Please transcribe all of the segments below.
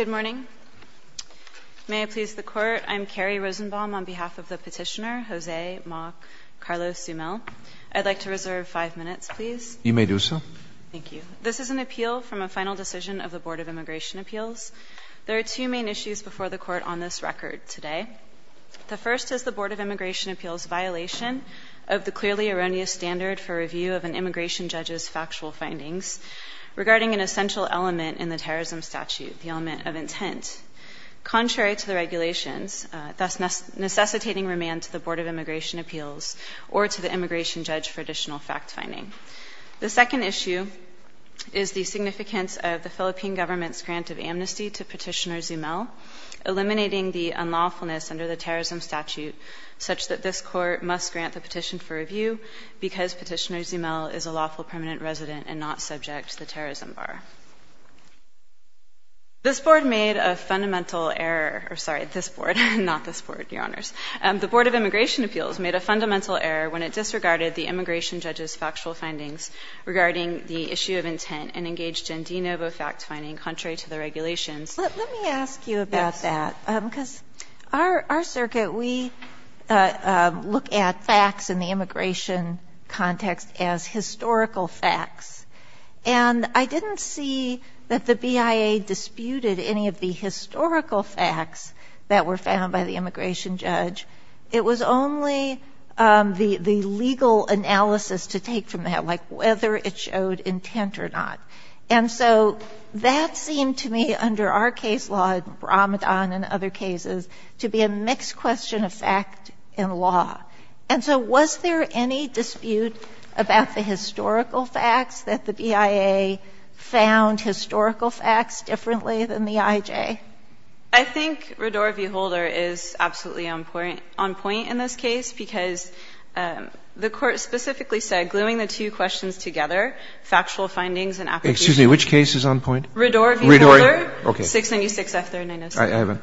Good morning. May I please the court. I'm Carrie Rosenbaum on behalf of the petitioner Jose Mock Carlos Zumel. I'd like to reserve five minutes please. You may do so. Thank you. This is an appeal from a final decision of the Board of Immigration Appeals. There are two main issues before the court on this record today. The first is the Board of Immigration Appeals violation of the clearly erroneous standard for review of an immigration judge's factual findings regarding an essential element in the terrorism statute, the element of intent. Contrary to the regulations, thus necessitating remand to the Board of Immigration Appeals or to the immigration judge for additional fact-finding. The second issue is the significance of the Philippine government's grant of amnesty to petitioner Zumel, eliminating the unlawfulness under the terrorism statute such that this court must grant the petition for review because petitioner is a government resident and not subject to the terrorism bar. This Board made a fundamental error, or sorry, this Board, not this Board, Your Honors. The Board of Immigration Appeals made a fundamental error when it disregarded the immigration judge's factual findings regarding the issue of intent and engaged in de novo fact-finding contrary to the regulations. Sotomayor Let me ask you about that, because our circuit, we look at facts in the courts. We look at facts. And I didn't see that the BIA disputed any of the historical facts that were found by the immigration judge. It was only the legal analysis to take from that, like whether it showed intent or not. And so that seemed to me under our case law, Ramadan and other cases, to be a mixed question of fact and law. And so was there any dispute about the historical facts, that the BIA found historical facts differently than the IJ? I think Rador v. Holder is absolutely on point in this case, because the Court specifically said, gluing the two questions together, factual findings and applications Excuse me. Which case is on point? Rador v. Holder, 696F3906. I haven't.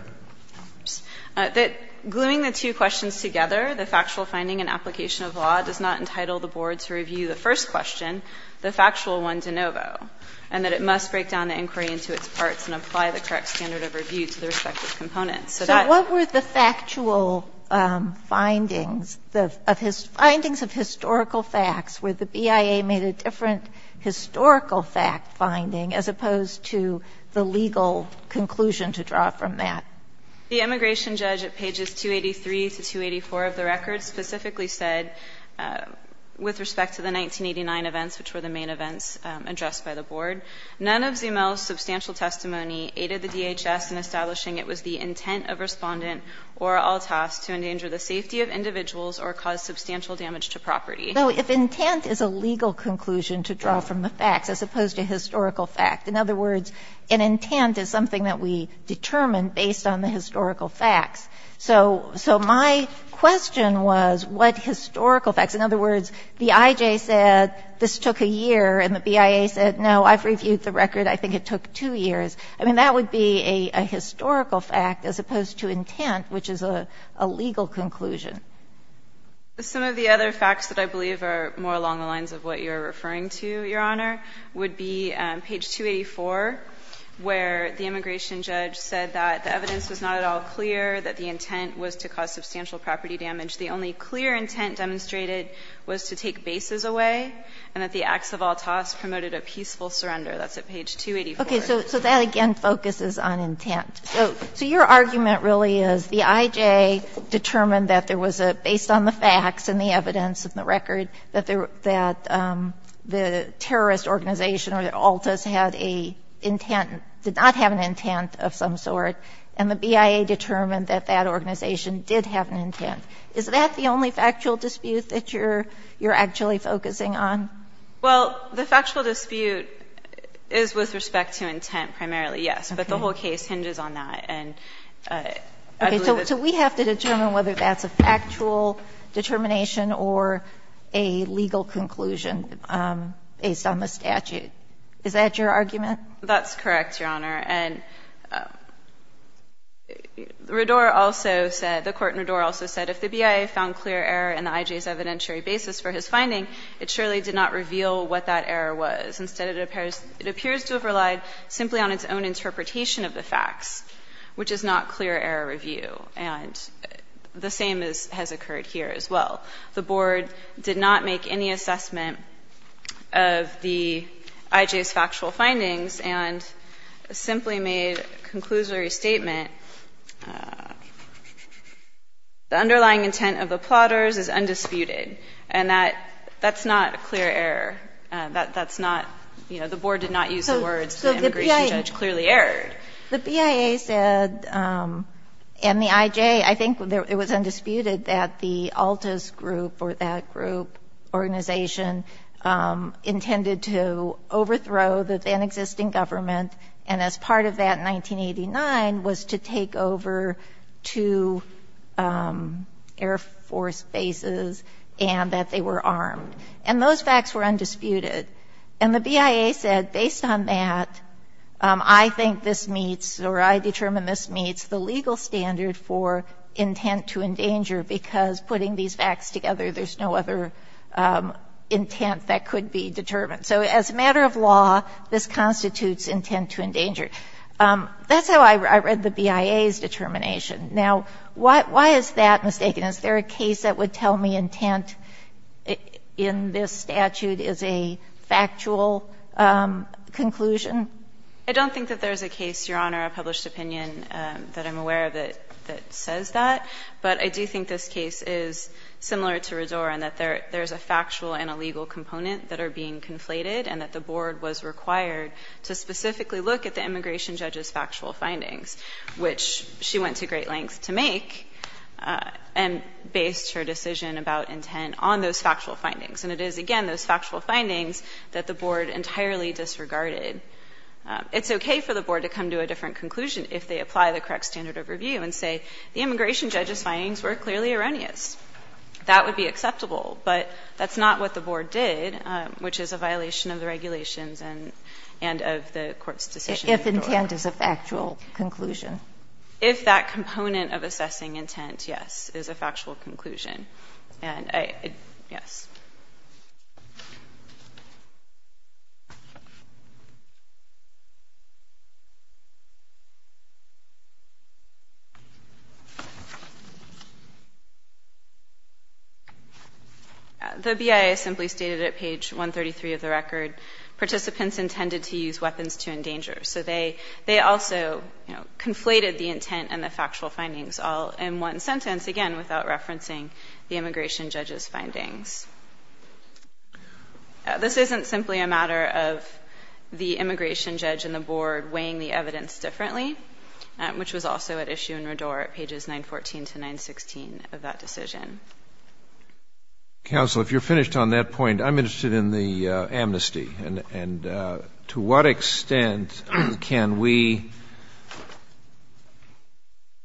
That gluing the two questions together, the factual finding and application of law, does not entitle the Board to review the first question, the factual one de novo, and that it must break down the inquiry into its parts and apply the correct standard of review to the respective components. So that's So what were the factual findings, the findings of historical facts where the BIA made a different historical fact-finding as opposed to the legal conclusion to draw from that? The immigration judge at pages 283 to 284 of the record specifically said, with respect to the 1989 events, which were the main events addressed by the Board, none of Zemel's substantial testimony aided the DHS in establishing it was the intent of Respondent or Altas to endanger the safety of individuals or cause substantial damage to property. So if intent is a legal conclusion to draw from the facts as opposed to historical fact, in other words, an intent is something that we determine based on the historical facts. So my question was, what historical facts? In other words, the IJ said this took a year, and the BIA said, no, I've reviewed the record, I think it took two years. I mean, that would be a historical fact as opposed to intent, which is a legal conclusion. Some of the other facts that I believe are more along the lines of what you're referring to, Your Honor, would be page 284, where the immigration judge said that the evidence was not at all clear, that the intent was to cause substantial property damage. The only clear intent demonstrated was to take bases away, and that the acts of Altas promoted a peaceful surrender. That's at page 284. Okay. So that, again, focuses on intent. So your argument really is the IJ determined that there was a, based on the facts and the evidence in the record, that the terrorist organization or the Altas had an intent, did not have an intent of some sort, and the BIA determined that that organization did have an intent. Is that the only factual dispute that you're actually focusing on? Well, the factual dispute is with respect to intent primarily, yes. Okay. But the whole case hinges on that. And I believe that's the case. And I don't think that's a clear explanation or a legal conclusion based on the statute. Is that your argument? That's correct, Your Honor. And Rador also said, the Court in Rador also said, if the BIA found clear error in the IJ's evidentiary basis for his finding, it surely did not reveal what that error was. Instead, it appears to have relied simply on its own interpretation of the facts, which is not clear error review. And the same has occurred here as well. The Board did not make any assessment of the IJ's factual findings and simply made a conclusory statement, the underlying intent of the plotters is undisputed, and that's not a clear error. That's not, you know, the Board did not use the words, the immigration judge clearly erred. The BIA said, and the IJ, I think it was undisputed that the ALTAS group or that group, organization, intended to overthrow the then-existing government. And as part of that in 1989 was to take over two Air Force bases and that they were armed. And those facts were undisputed. And the BIA said, based on that, I think this meets or I determine this meets the legal standard for intent to endanger because putting these facts together, there's no other intent that could be determined. So as a matter of law, this constitutes intent to endanger. That's how I read the BIA's determination. Now, why is that mistaken? Is there a case that would tell me intent in this statute is a factual conclusion? I don't think that there's a case, Your Honor, a published opinion that I'm aware of that says that. But I do think this case is similar to Rador in that there's a factual and a legal component that are being conflated and that the Board was required to specifically look at the immigration judge's factual findings, which she went to great lengths to make and based her decision about intent on those factual findings. And it is, again, those factual findings that the Board entirely disregarded. It's okay for the Board to come to a different conclusion if they apply the correct standard of review and say the immigration judge's findings were clearly erroneous. That would be acceptable. But that's not what the Board did, which is a violation of the regulations and of the court's decision. If intent is a factual conclusion. If that component of assessing intent, yes, is a factual conclusion. Yes. The BIA simply stated at page 133 of the record, participants intended to use factual findings all in one sentence, again, without referencing the immigration judge's findings. This isn't simply a matter of the immigration judge and the Board weighing the evidence differently, which was also at issue in Rador at pages 914 to 916 of that decision. Counsel, if you're finished on that point, I'm interested in the amnesty. And to what extent can we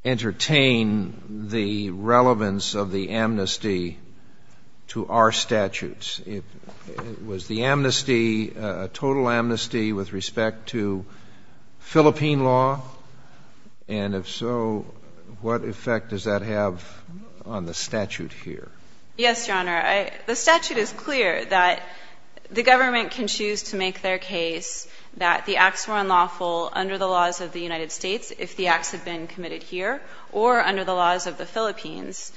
entertain the relevance of the amnesty to our statutes? Was the amnesty a total amnesty with respect to Philippine law? And if so, what effect does that have on the statute here? Yes, Your Honor. The statute is clear that the government can choose to make their case that the acts were unlawful under the laws of the United States if the acts have been committed here or under the laws of the Philippines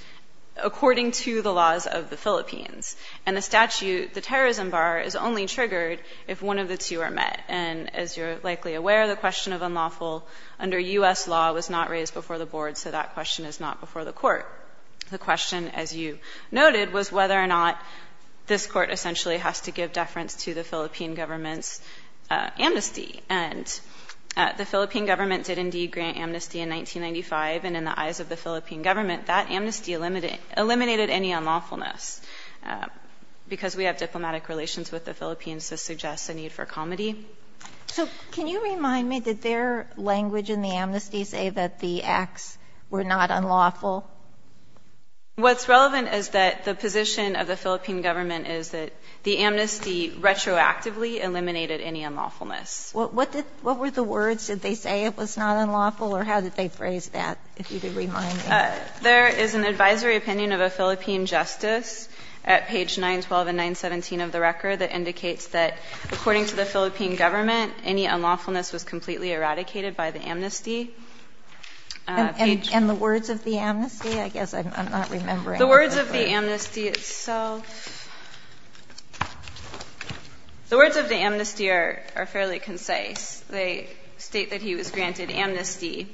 according to the laws of the Philippines. And the statute, the terrorism bar, is only triggered if one of the two are met. And as you're likely aware, the question of unlawful under U.S. law was not raised before the Board, so that question is not before the court. The question, as you noted, was whether or not this Court essentially has to give deference to the Philippine government's amnesty. And the Philippine government did indeed grant amnesty in 1995. And in the eyes of the Philippine government, that amnesty eliminated any unlawfulness because we have diplomatic relations with the Philippines to suggest a need for comedy. So can you remind me, did their language in the amnesty say that the acts were not unlawful? What's relevant is that the position of the Philippine government is that the amnesty retroactively eliminated any unlawfulness. What were the words? Did they say it was not unlawful, or how did they phrase that? If you could remind me. There is an advisory opinion of a Philippine justice at page 912 and 917 of the record that indicates that according to the Philippine government, any unlawfulness was completely eradicated by the amnesty. And the words of the amnesty? I guess I'm not remembering. The words of the amnesty itself. The words of the amnesty are fairly concise. They state that he was granted amnesty.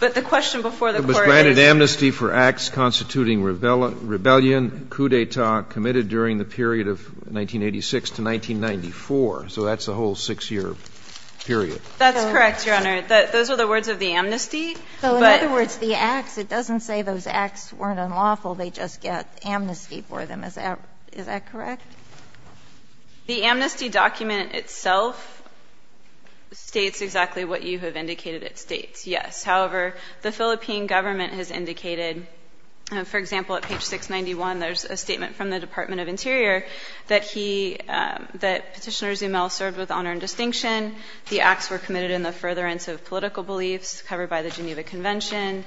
But the question before the Court is. It was granted amnesty for acts constituting rebellion, coup d'etat committed during the period of 1986 to 1994. So that's the whole 6-year period. That's correct, Your Honor. Those are the words of the amnesty. But. So in other words, the acts, it doesn't say those acts weren't unlawful. They just get amnesty for them. Is that correct? The amnesty document itself states exactly what you have indicated it states. Yes. However, the Philippine government has indicated, for example, at page 691 there's a statement from the Department of Interior that he, that Petitioner Zumel served with honor and distinction. The acts were committed in the furtherance of political beliefs covered by the Geneva Convention.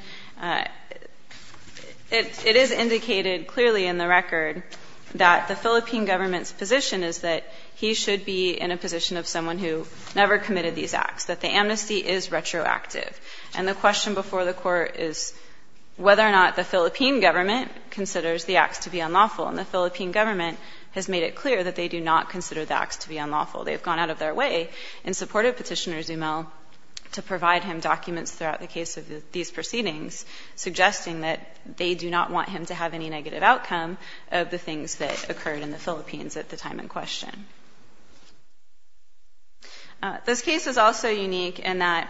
It is indicated clearly in the record that the Philippine government's position is that he should be in a position of someone who never committed these acts, that the amnesty is retroactive. And the question before the Court is whether or not the Philippine government considers the acts to be unlawful. And the Philippine government has made it clear that they do not consider the acts to be unlawful. They have gone out of their way in support of Petitioner Zumel to provide him documents throughout the case of these proceedings, suggesting that they do not want him to have any negative outcome of the things that occurred in the Philippines at the time in question. This case is also unique in that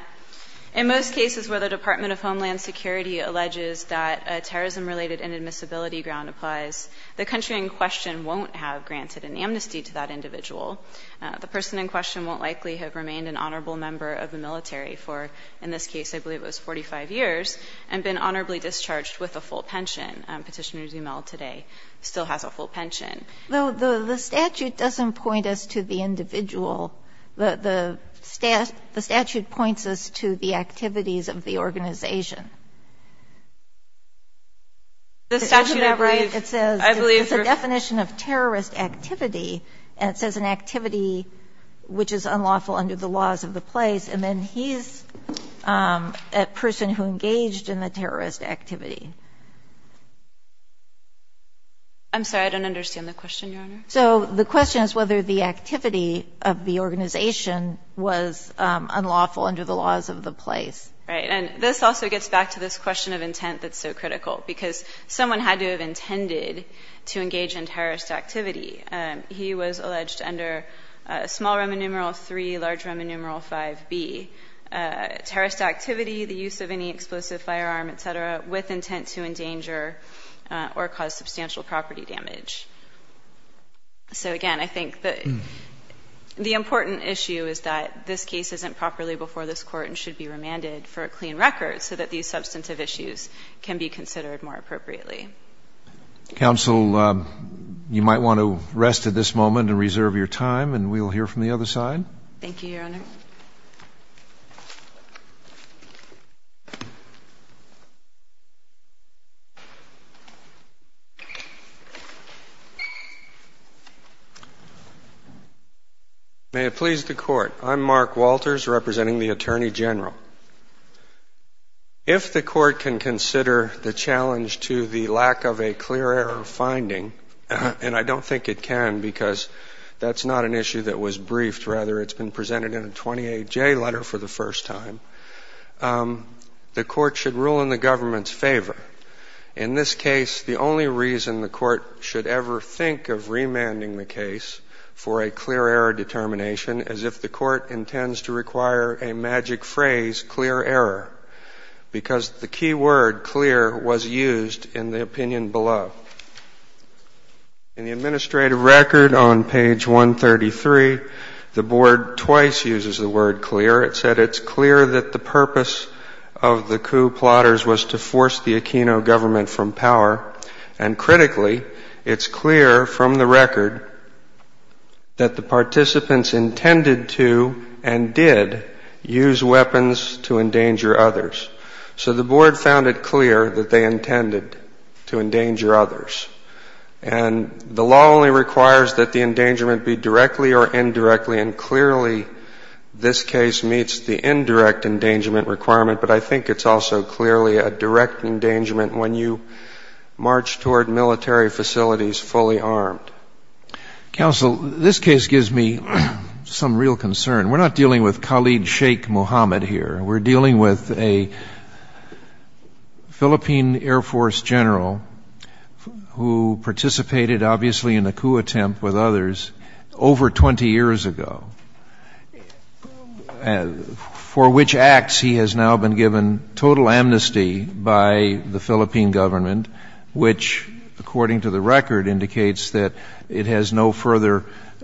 in most cases where the Department of Homeland Security alleges that a terrorism-related inadmissibility ground applies, the country in question won't have granted an amnesty to that individual. The person in question won't likely have remained an honorable member of the military for, in this case, I believe it was 45 years, and been honorably discharged with a full pension. Petitioner Zumel today still has a full pension. Sotomayor, though, the statute doesn't point us to the individual. The statute points us to the activities of the organization. Isn't that right? It says it's a definition of terrorist activity, and it says an activity which is unlawful under the laws of the place, and then he's a person who engaged in the terrorist activity. I'm sorry. I don't understand the question, Your Honor. So the question is whether the activity of the organization was unlawful under the laws of the place. Right. And this also gets back to this question of intent that's so critical, because someone had to have intended to engage in terrorist activity. He was alleged under small Roman numeral 3, large Roman numeral 5B, terrorist activity, the use of any explosive firearm, et cetera, with intent to endanger or cause substantial property damage. So, again, I think the important issue is that this case isn't properly before this Court and should be remanded for a clean record so that these substantive issues can be considered more appropriately. Counsel, you might want to rest at this moment and reserve your time, and we'll hear from the other side. Thank you, Your Honor. May it please the Court. I'm Mark Walters, representing the Attorney General. If the Court can consider the challenge to the lack of a clear error finding, and I don't think it can because that's not an issue that was briefed, rather it's been presented in a 28J letter for the first time, the Court should rule in the government's favor. In this case, the only reason the Court should ever think of remanding the case for a clear error determination is if the Court intends to require a magic phrase, clear error, because the key word, clear, was used in the opinion below. In the administrative record on page 133, the Board twice uses the word clear. It said it's clear that the purpose of the coup plotters was to force the Aquino government from power, and critically, it's clear from the record that the board found it clear that they intended to endanger others. And the law only requires that the endangerment be directly or indirectly, and clearly this case meets the indirect endangerment requirement, but I think it's also clearly a direct endangerment when you march toward military facilities fully armed. Counsel, this case gives me some real concern. We're not dealing with Khalid Sheikh Mohammed here. We're dealing with a Philippine Air Force general who participated, obviously, in a coup attempt with others over 20 years ago, for which acts he has now been given total amnesty by the Philippine government, which, according to the record, indicates that it has no further —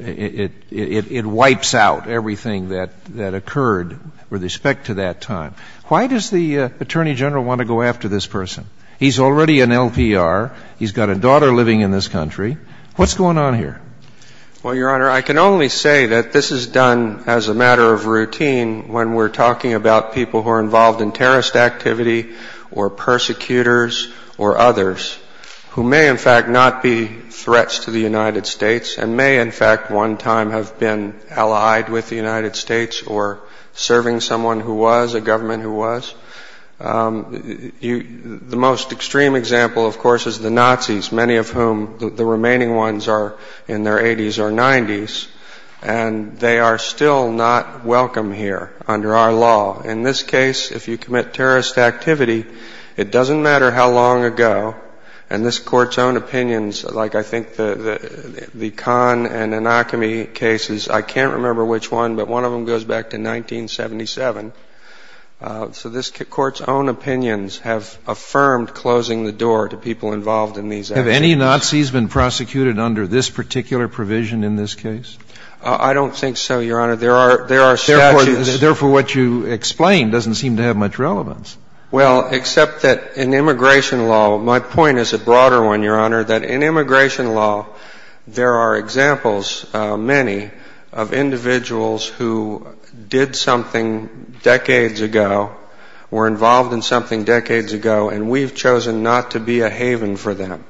it wipes out everything that occurred with respect to that time. Why does the Attorney General want to go after this person? He's already an LPR. He's got a daughter living in this country. What's going on here? Well, Your Honor, I can only say that this is done as a matter of routine when we're talking about people who are involved in terrorist activity or persecutors or others who may, in fact, not be threats to the United States and may, in fact, one time have been allied with the United States or serving someone who was, a government who was. The most extreme example, of course, is the Nazis, many of whom, the remaining ones are in their 80s or 90s, and they are still not welcome here under our law. In this case, if you commit terrorist activity, it doesn't matter how long ago, and this Court's own opinions, like I think the Kahn and Anacami cases, I can't remember which one, but one of them goes back to 1977. So this Court's own opinions have affirmed closing the door to people involved in these activities. Have any Nazis been prosecuted under this particular provision in this case? I don't think so, Your Honor. There are statutes. Therefore, what you explain doesn't seem to have much relevance. Well, except that in immigration law, my point is a broader one, Your Honor, that in immigration law, there are examples, many, of individuals who did something decades ago, were involved in something decades ago, and we've chosen not to be a haven for them.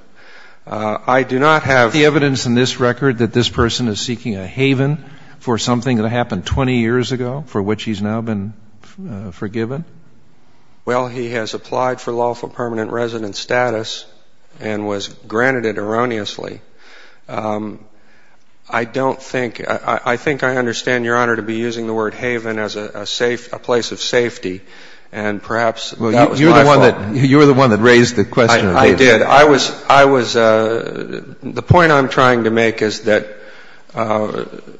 I do not have the evidence in this record that this person is seeking a haven for something that happened 20 years ago for which he's now been forgiven. Well, he has applied for lawful permanent resident status and was granted it erroneously. I don't think — I think I understand, Your Honor, to be using the word haven as a safe — a place of safety, and perhaps that was my fault. You're the one that raised the question of haven. I did. I was — the point I'm trying to make is that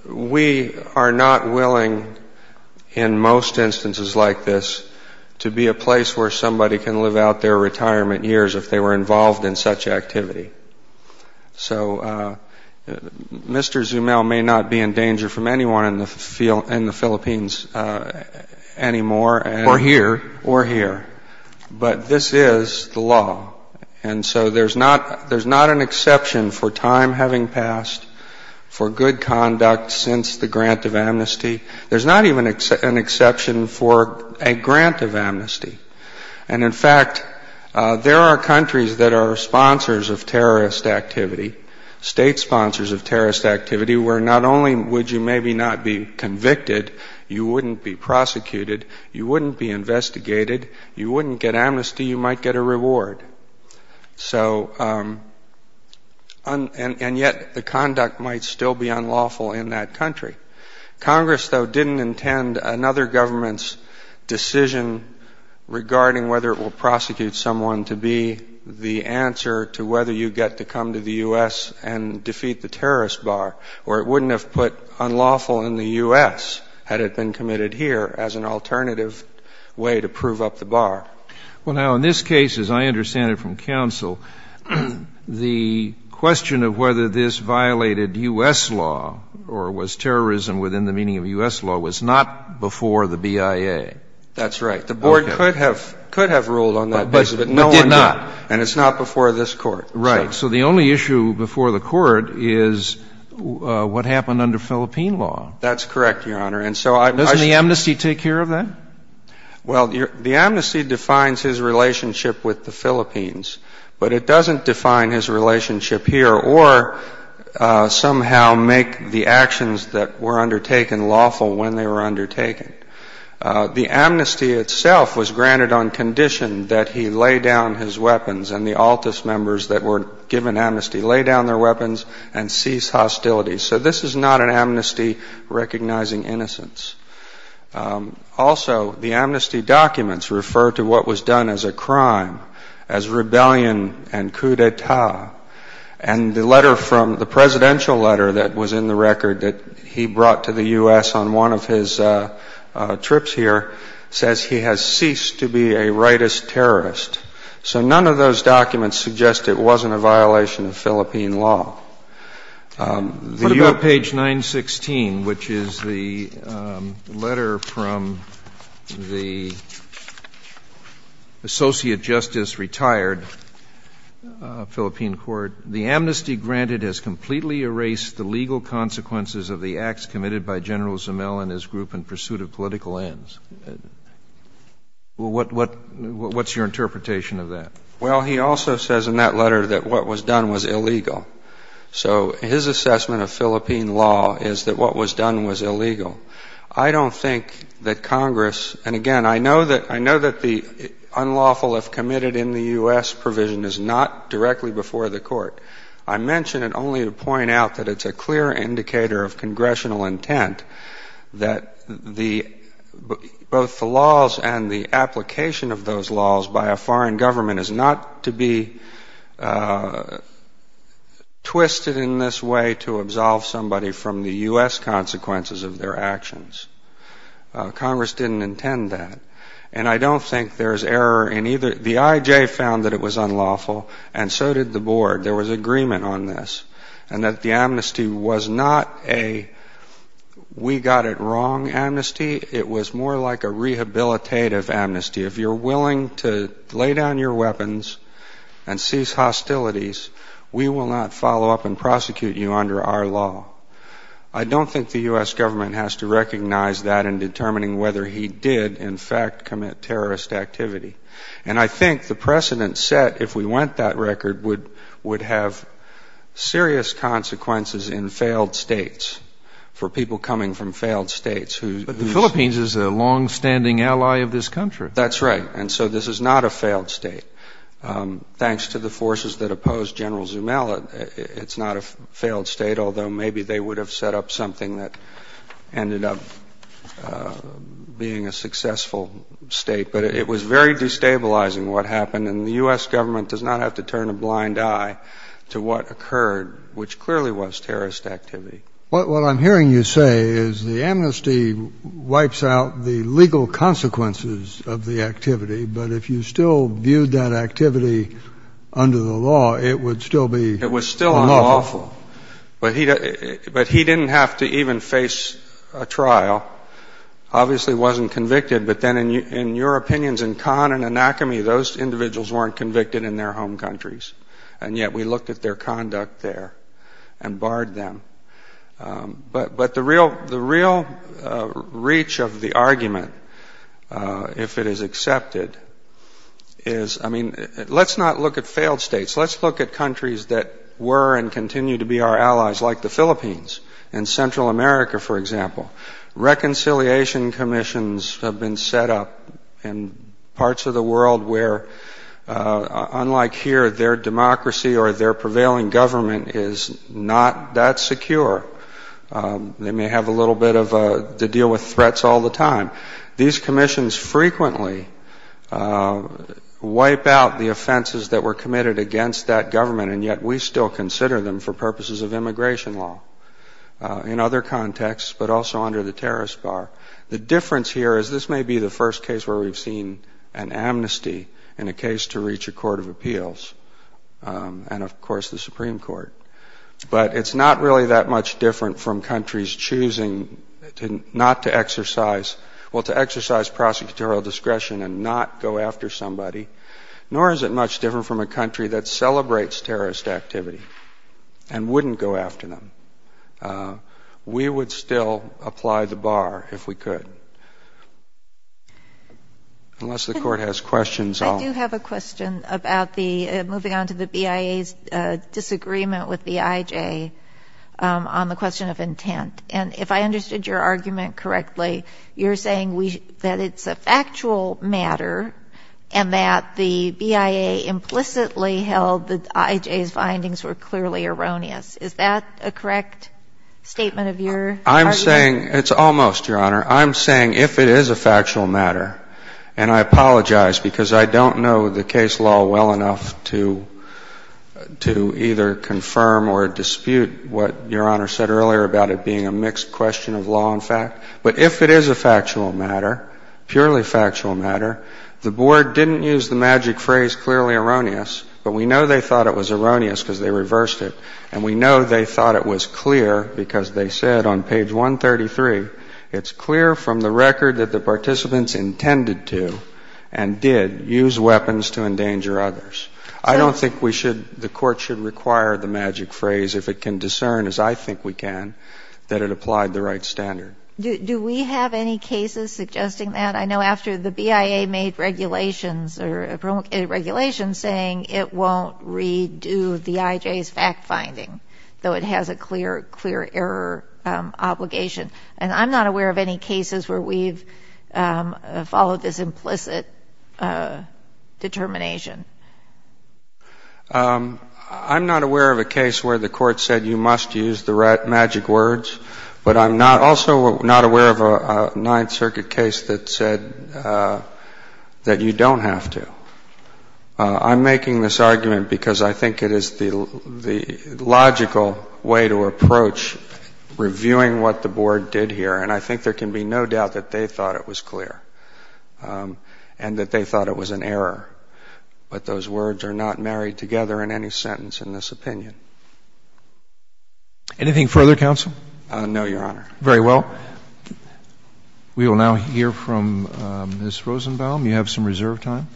we are not willing, in most instances like this, to be a place where somebody can live out their retirement years if they were involved in such activity. So Mr. Zumel may not be in danger from anyone in the Philippines anymore. Or here. Or here. But this is the law. And so there's not an exception for time having passed for good conduct since the grant of amnesty. There's not even an exception for a grant of amnesty. And, in fact, there are countries that are sponsors of terrorist activity, state sponsors of terrorist activity, where not only would you maybe not be convicted, you wouldn't be prosecuted, you wouldn't be investigated, you wouldn't get amnesty, you might get a reward. So — and yet the conduct might still be unlawful in that country. Congress, though, didn't intend another government's decision regarding whether it will prosecute someone to be the answer to whether you get to come to the U.S. and defeat the terrorist bar, or it wouldn't have put unlawful in the U.S. had it been committed here as an alternative way to prove up the bar. Well, now, in this case, as I understand it from counsel, the question of whether this violated U.S. law or was terrorism within the meaning of U.S. law was not before the BIA. That's right. The Board could have ruled on that basis, but no one did. But it did not. And it's not before this Court. Right. So the only issue before the Court is what happened under Philippine law. That's correct, Your Honor. And so I — Doesn't the amnesty take care of that? Well, the amnesty defines his relationship with the Philippines, but it doesn't define his relationship here or somehow make the actions that were undertaken lawful when they were undertaken. The amnesty itself was granted on condition that he lay down his weapons and the given amnesty, lay down their weapons and cease hostility. So this is not an amnesty recognizing innocence. Also, the amnesty documents refer to what was done as a crime, as rebellion and coup d'etat. And the letter from — the presidential letter that was in the record that he brought to the U.S. on one of his trips here says he has ceased to be a rightist terrorist. So none of those documents suggest it wasn't a violation of Philippine law. The U.S. What about page 916, which is the letter from the associate justice retired Philippine court? The amnesty granted has completely erased the legal consequences of the acts committed by General Zimel and his group in pursuit of political ends. What's your interpretation of that? Well, he also says in that letter that what was done was illegal. So his assessment of Philippine law is that what was done was illegal. I don't think that Congress — and, again, I know that the unlawful if committed in the U.S. provision is not directly before the court. I mention it only to point out that it's a clear indicator of congressional intent that the — both the laws and the application of those laws by a foreign government is not to be twisted in this way to absolve somebody from the U.S. consequences of their actions. Congress didn't intend that. And I don't think there's error in either — the I.J. found that it was unlawful, and so did the board. There was agreement on this, and that the amnesty was not a we-got-it-wrong amnesty. It was more like a rehabilitative amnesty. If you're willing to lay down your weapons and cease hostilities, we will not follow up and prosecute you under our law. I don't think the U.S. government has to recognize that in determining whether he did, in fact, commit terrorist activity. And I think the precedent set, if we went that record, would have serious consequences in failed states for people coming from failed states who — But the Philippines is a longstanding ally of this country. That's right. And so this is not a failed state. Thanks to the forces that opposed General Zumala, it's not a failed state, although maybe they would have set up something that ended up being a successful state. But it was very destabilizing, what happened. And the U.S. government does not have to turn a blind eye to what occurred, which clearly was terrorist activity. What I'm hearing you say is the amnesty wipes out the legal consequences of the activity, but if you still viewed that activity under the law, it would still be unlawful. It was still unlawful. But he didn't have to even face a trial. Obviously wasn't convicted, but then in your opinions, in Khan and Anakame, those individuals weren't convicted in their home countries, and yet we looked at their conduct there and barred them. But the real reach of the argument, if it is accepted, is — I mean, let's not look at failed states. Let's look at countries that were and continue to be our allies, like the Philippines and Central America, for example. Reconciliation commissions have been set up in parts of the world where, unlike here, their democracy or their prevailing government is not that secure. They may have a little bit of a — to deal with threats all the time. These commissions frequently wipe out the offenses that were committed against that but also under the terrorist bar. The difference here is this may be the first case where we've seen an amnesty in a case to reach a court of appeals and, of course, the Supreme Court. But it's not really that much different from countries choosing not to exercise — well, to exercise prosecutorial discretion and not go after somebody, nor is it much different from a country that celebrates terrorist activity and wouldn't go after them. We would still apply the bar if we could. Unless the Court has questions, I'll — I do have a question about the — moving on to the BIA's disagreement with the IJ on the question of intent. And if I understood your argument correctly, you're saying that it's a factual matter and that the BIA implicitly held that IJ's findings were clearly erroneous. Is that a correct statement of your argument? I'm saying — it's almost, Your Honor. I'm saying if it is a factual matter — and I apologize because I don't know the case law well enough to either confirm or dispute what Your Honor said earlier about it being a mixed question of law and fact. But if it is a factual matter, purely factual matter, the Board didn't use the magic phrase clearly erroneous, but we know they thought it was erroneous because they reversed it. And we know they thought it was clear because they said on page 133, it's clear from the record that the participants intended to and did use weapons to endanger others. I don't think we should — the Court should require the magic phrase, if it can discern as I think we can, that it applied the right standard. Do we have any cases suggesting that? I know after the BIA made regulations saying it won't redo the IJ's fact-finding, though it has a clear error obligation. And I'm not aware of any cases where we've followed this implicit determination. I'm not aware of a case where the Court said you must use the magic words, but I'm also not aware of a Ninth Circuit case that said that you don't have to. I'm making this argument because I think it is the logical way to approach reviewing what the Board did here. And I think there can be no doubt that they thought it was clear and that they thought it was an error. But those words are not married together in any sentence in this opinion. Anything further, counsel? No, Your Honor. Very well. We will now hear from Ms. Rosenbaum. You have some reserve time.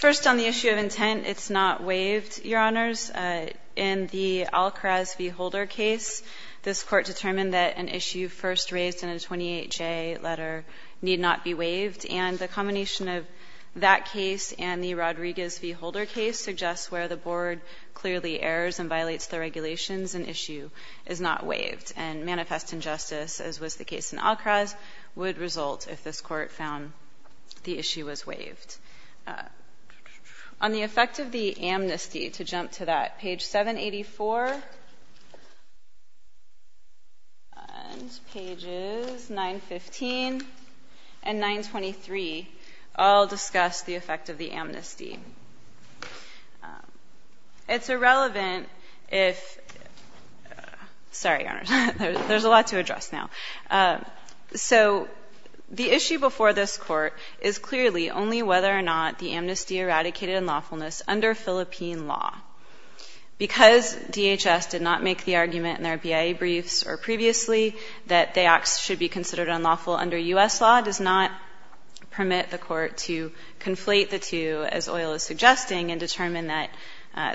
First, on the issue of intent, it's not waived, Your Honors. In the Alcraz v. Holder case, this Court determined that an issue first raised in a 28J letter need not be waived. And the combination of that case and the Rodriguez v. Holder case suggests where the Board clearly errors and violates the regulations, an issue is not waived. And manifest injustice, as was the case in Alcraz, would result if this Court found the issue was waived. On the effect of the amnesty, to jump to that, page 784 and pages 915 and 923 all discuss the effect of the amnesty. It's irrelevant if — sorry, Your Honors. There's a lot to address now. So the issue before this Court is clearly only whether or not the amnesty eradicated unlawfulness under Philippine law. Because DHS did not make the argument in their BIA briefs or previously that the acts should be considered unlawful under U.S. law, does not permit the Court to conflate the two, as Oyl is suggesting, and determine that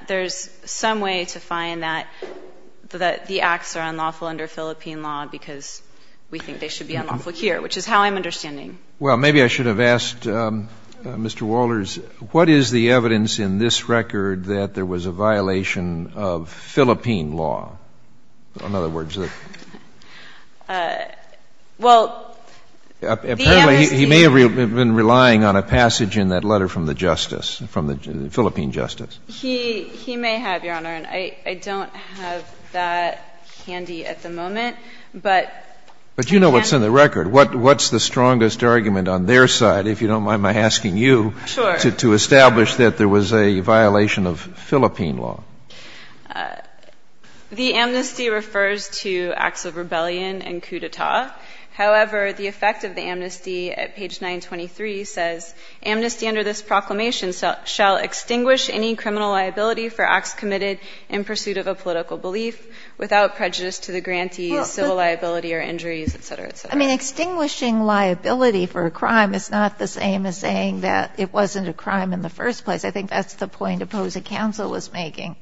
there's some way to find that the should be unlawful here, which is how I'm understanding. Well, maybe I should have asked Mr. Walters, what is the evidence in this record that there was a violation of Philippine law? In other words, the — Well, the amnesty — Apparently, he may have been relying on a passage in that letter from the justice, from the Philippine justice. He may have, Your Honor. I don't have that handy at the moment, but — But you know what's in the record. What's the strongest argument on their side, if you don't mind my asking you — Sure. — to establish that there was a violation of Philippine law? The amnesty refers to acts of rebellion and coup d'etat. However, the effect of the amnesty at page 923 says, Amnesty under this proclamation shall extinguish any criminal liability for acts committed in pursuit of a political belief without prejudice to the grantee's civil liability or injuries, et cetera, et cetera. I mean, extinguishing liability for a crime is not the same as saying that it wasn't a crime in the first place. I think that's the point Opposing Counsel was making.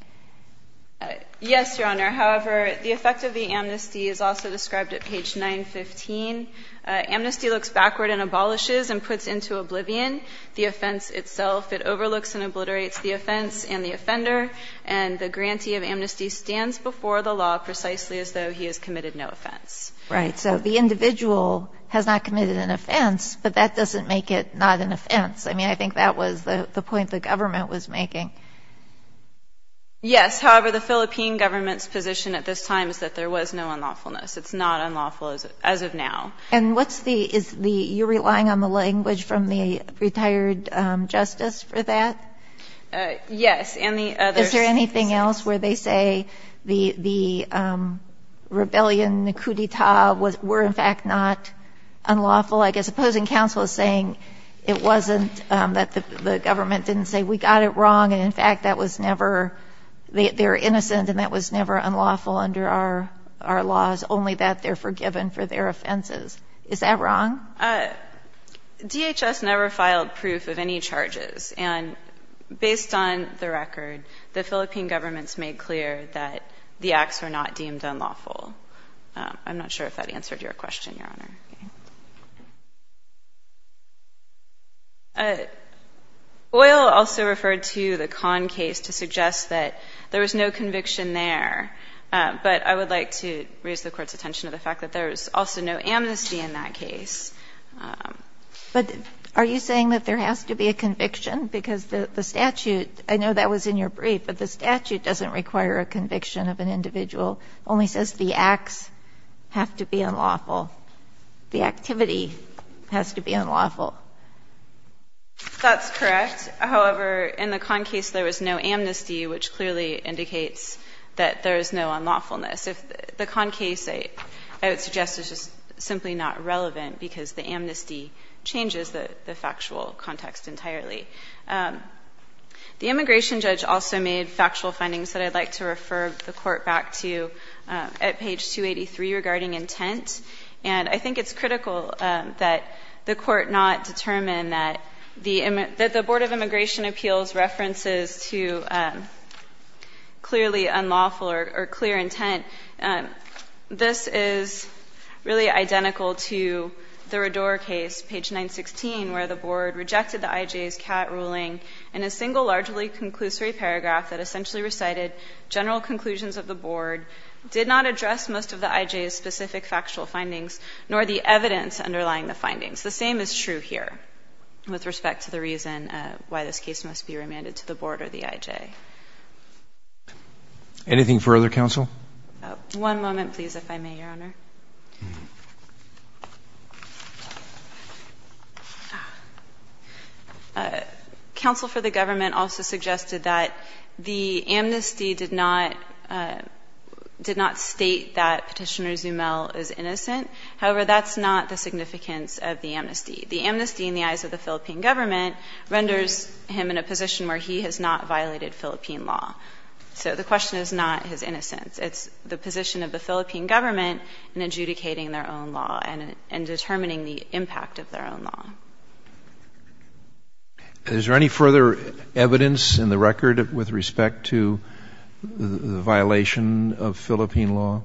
Yes, Your Honor. However, the effect of the amnesty is also described at page 915. Amnesty looks backward and abolishes and puts into oblivion the offense itself. It overlooks and obliterates the offense and the offender, and the grantee of amnesty stands before the law precisely as though he has committed no offense. Right. So the individual has not committed an offense, but that doesn't make it not an offense. I mean, I think that was the point the government was making. Yes. However, the Philippine government's position at this time is that there was no unlawfulness. It's not unlawful as of now. And what's the – is the – you're relying on the language from the retired justice for that? Yes. And the others. Is there anything else where they say the rebellion, the coup d'etat, were in fact not unlawful? I guess Opposing Counsel is saying it wasn't – that the government didn't say we got it wrong, and in fact that was never – they're innocent and that was never unlawful under our laws, only that they're forgiven for their offenses. Is that wrong? DHS never filed proof of any charges. And based on the record, the Philippine government's made clear that the acts were not deemed unlawful. I'm not sure if that answered your question, Your Honor. Oyl also referred to the Kahn case to suggest that there was no conviction there, but I would like to raise the Court's attention to the fact that there was also no amnesty in that case. But are you saying that there has to be a conviction, because the statute – I know that was in your brief, but the statute doesn't require a conviction of an individual, only says the acts have to be unlawful, the activity has to be unlawful? That's correct. However, in the Kahn case, there was no amnesty, which clearly indicates that there is no unlawfulness. The Kahn case, I would suggest, is just simply not relevant because the amnesty changes the factual context entirely. The immigration judge also made factual findings that I'd like to refer the Court back to at page 283 regarding intent. And I think it's critical that the Court not determine that the Board of Immigration Appeals references to clearly unlawful or clear intent. This is really identical to the Rador case, page 916, where the Board rejected the IJ's Catt ruling in a single largely conclusory paragraph that essentially recited general conclusions of the Board, did not address most of the IJ's specific factual findings, nor the evidence underlying the findings. The same is true here with respect to the reason why this case must be remanded to the Board or the IJ. Anything further, counsel? One moment, please, if I may, Your Honor. Counsel for the government also suggested that the amnesty did not, did not state that Petitioner Zumel is innocent. However, that's not the significance of the amnesty. The amnesty in the eyes of the Philippine government renders him in a position where he has not violated Philippine law. So the question is not his innocence. It's the position of the Philippine government in the eyes of the Philippine government in adjudicating their own law and determining the impact of their own law. Is there any further evidence in the record with respect to the violation of Philippine law?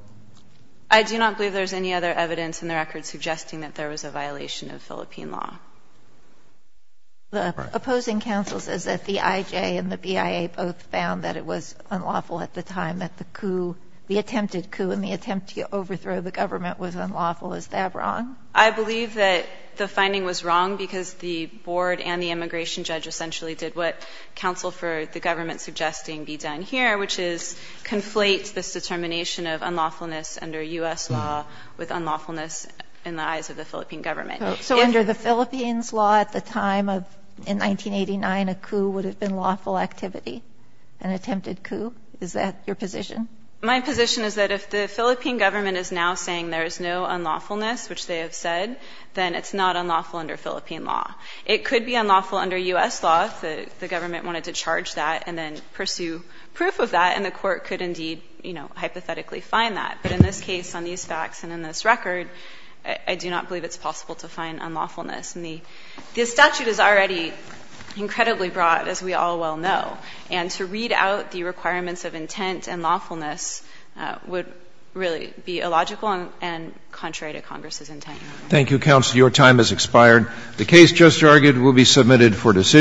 I do not believe there's any other evidence in the record suggesting that there was a violation of Philippine law. The opposing counsel says that the IJ and the BIA both found that it was unlawful at the time that the coup, the attempted coup and the attempt to overthrow the government was unlawful. Is that wrong? I believe that the finding was wrong because the board and the immigration judge essentially did what counsel for the government suggesting be done here, which is conflate this determination of unlawfulness under U.S. law with unlawfulness in the eyes of the Philippine government. So under the Philippines' law at the time of, in 1989, a coup would have been lawful activity, an attempted coup? Is that your position? My position is that if the Philippine government is now saying there is no unlawfulness, which they have said, then it's not unlawful under Philippine law. It could be unlawful under U.S. law if the government wanted to charge that and then pursue proof of that, and the court could indeed, you know, hypothetically find that. But in this case, on these facts and in this record, I do not believe it's possible to find unlawfulness. And the statute is already incredibly broad, as we all well know. And to read out the requirements of intent and lawfulness would really be illogical and contrary to Congress's intent. Thank you, counsel. Your time has expired. The case just argued will be submitted for decision.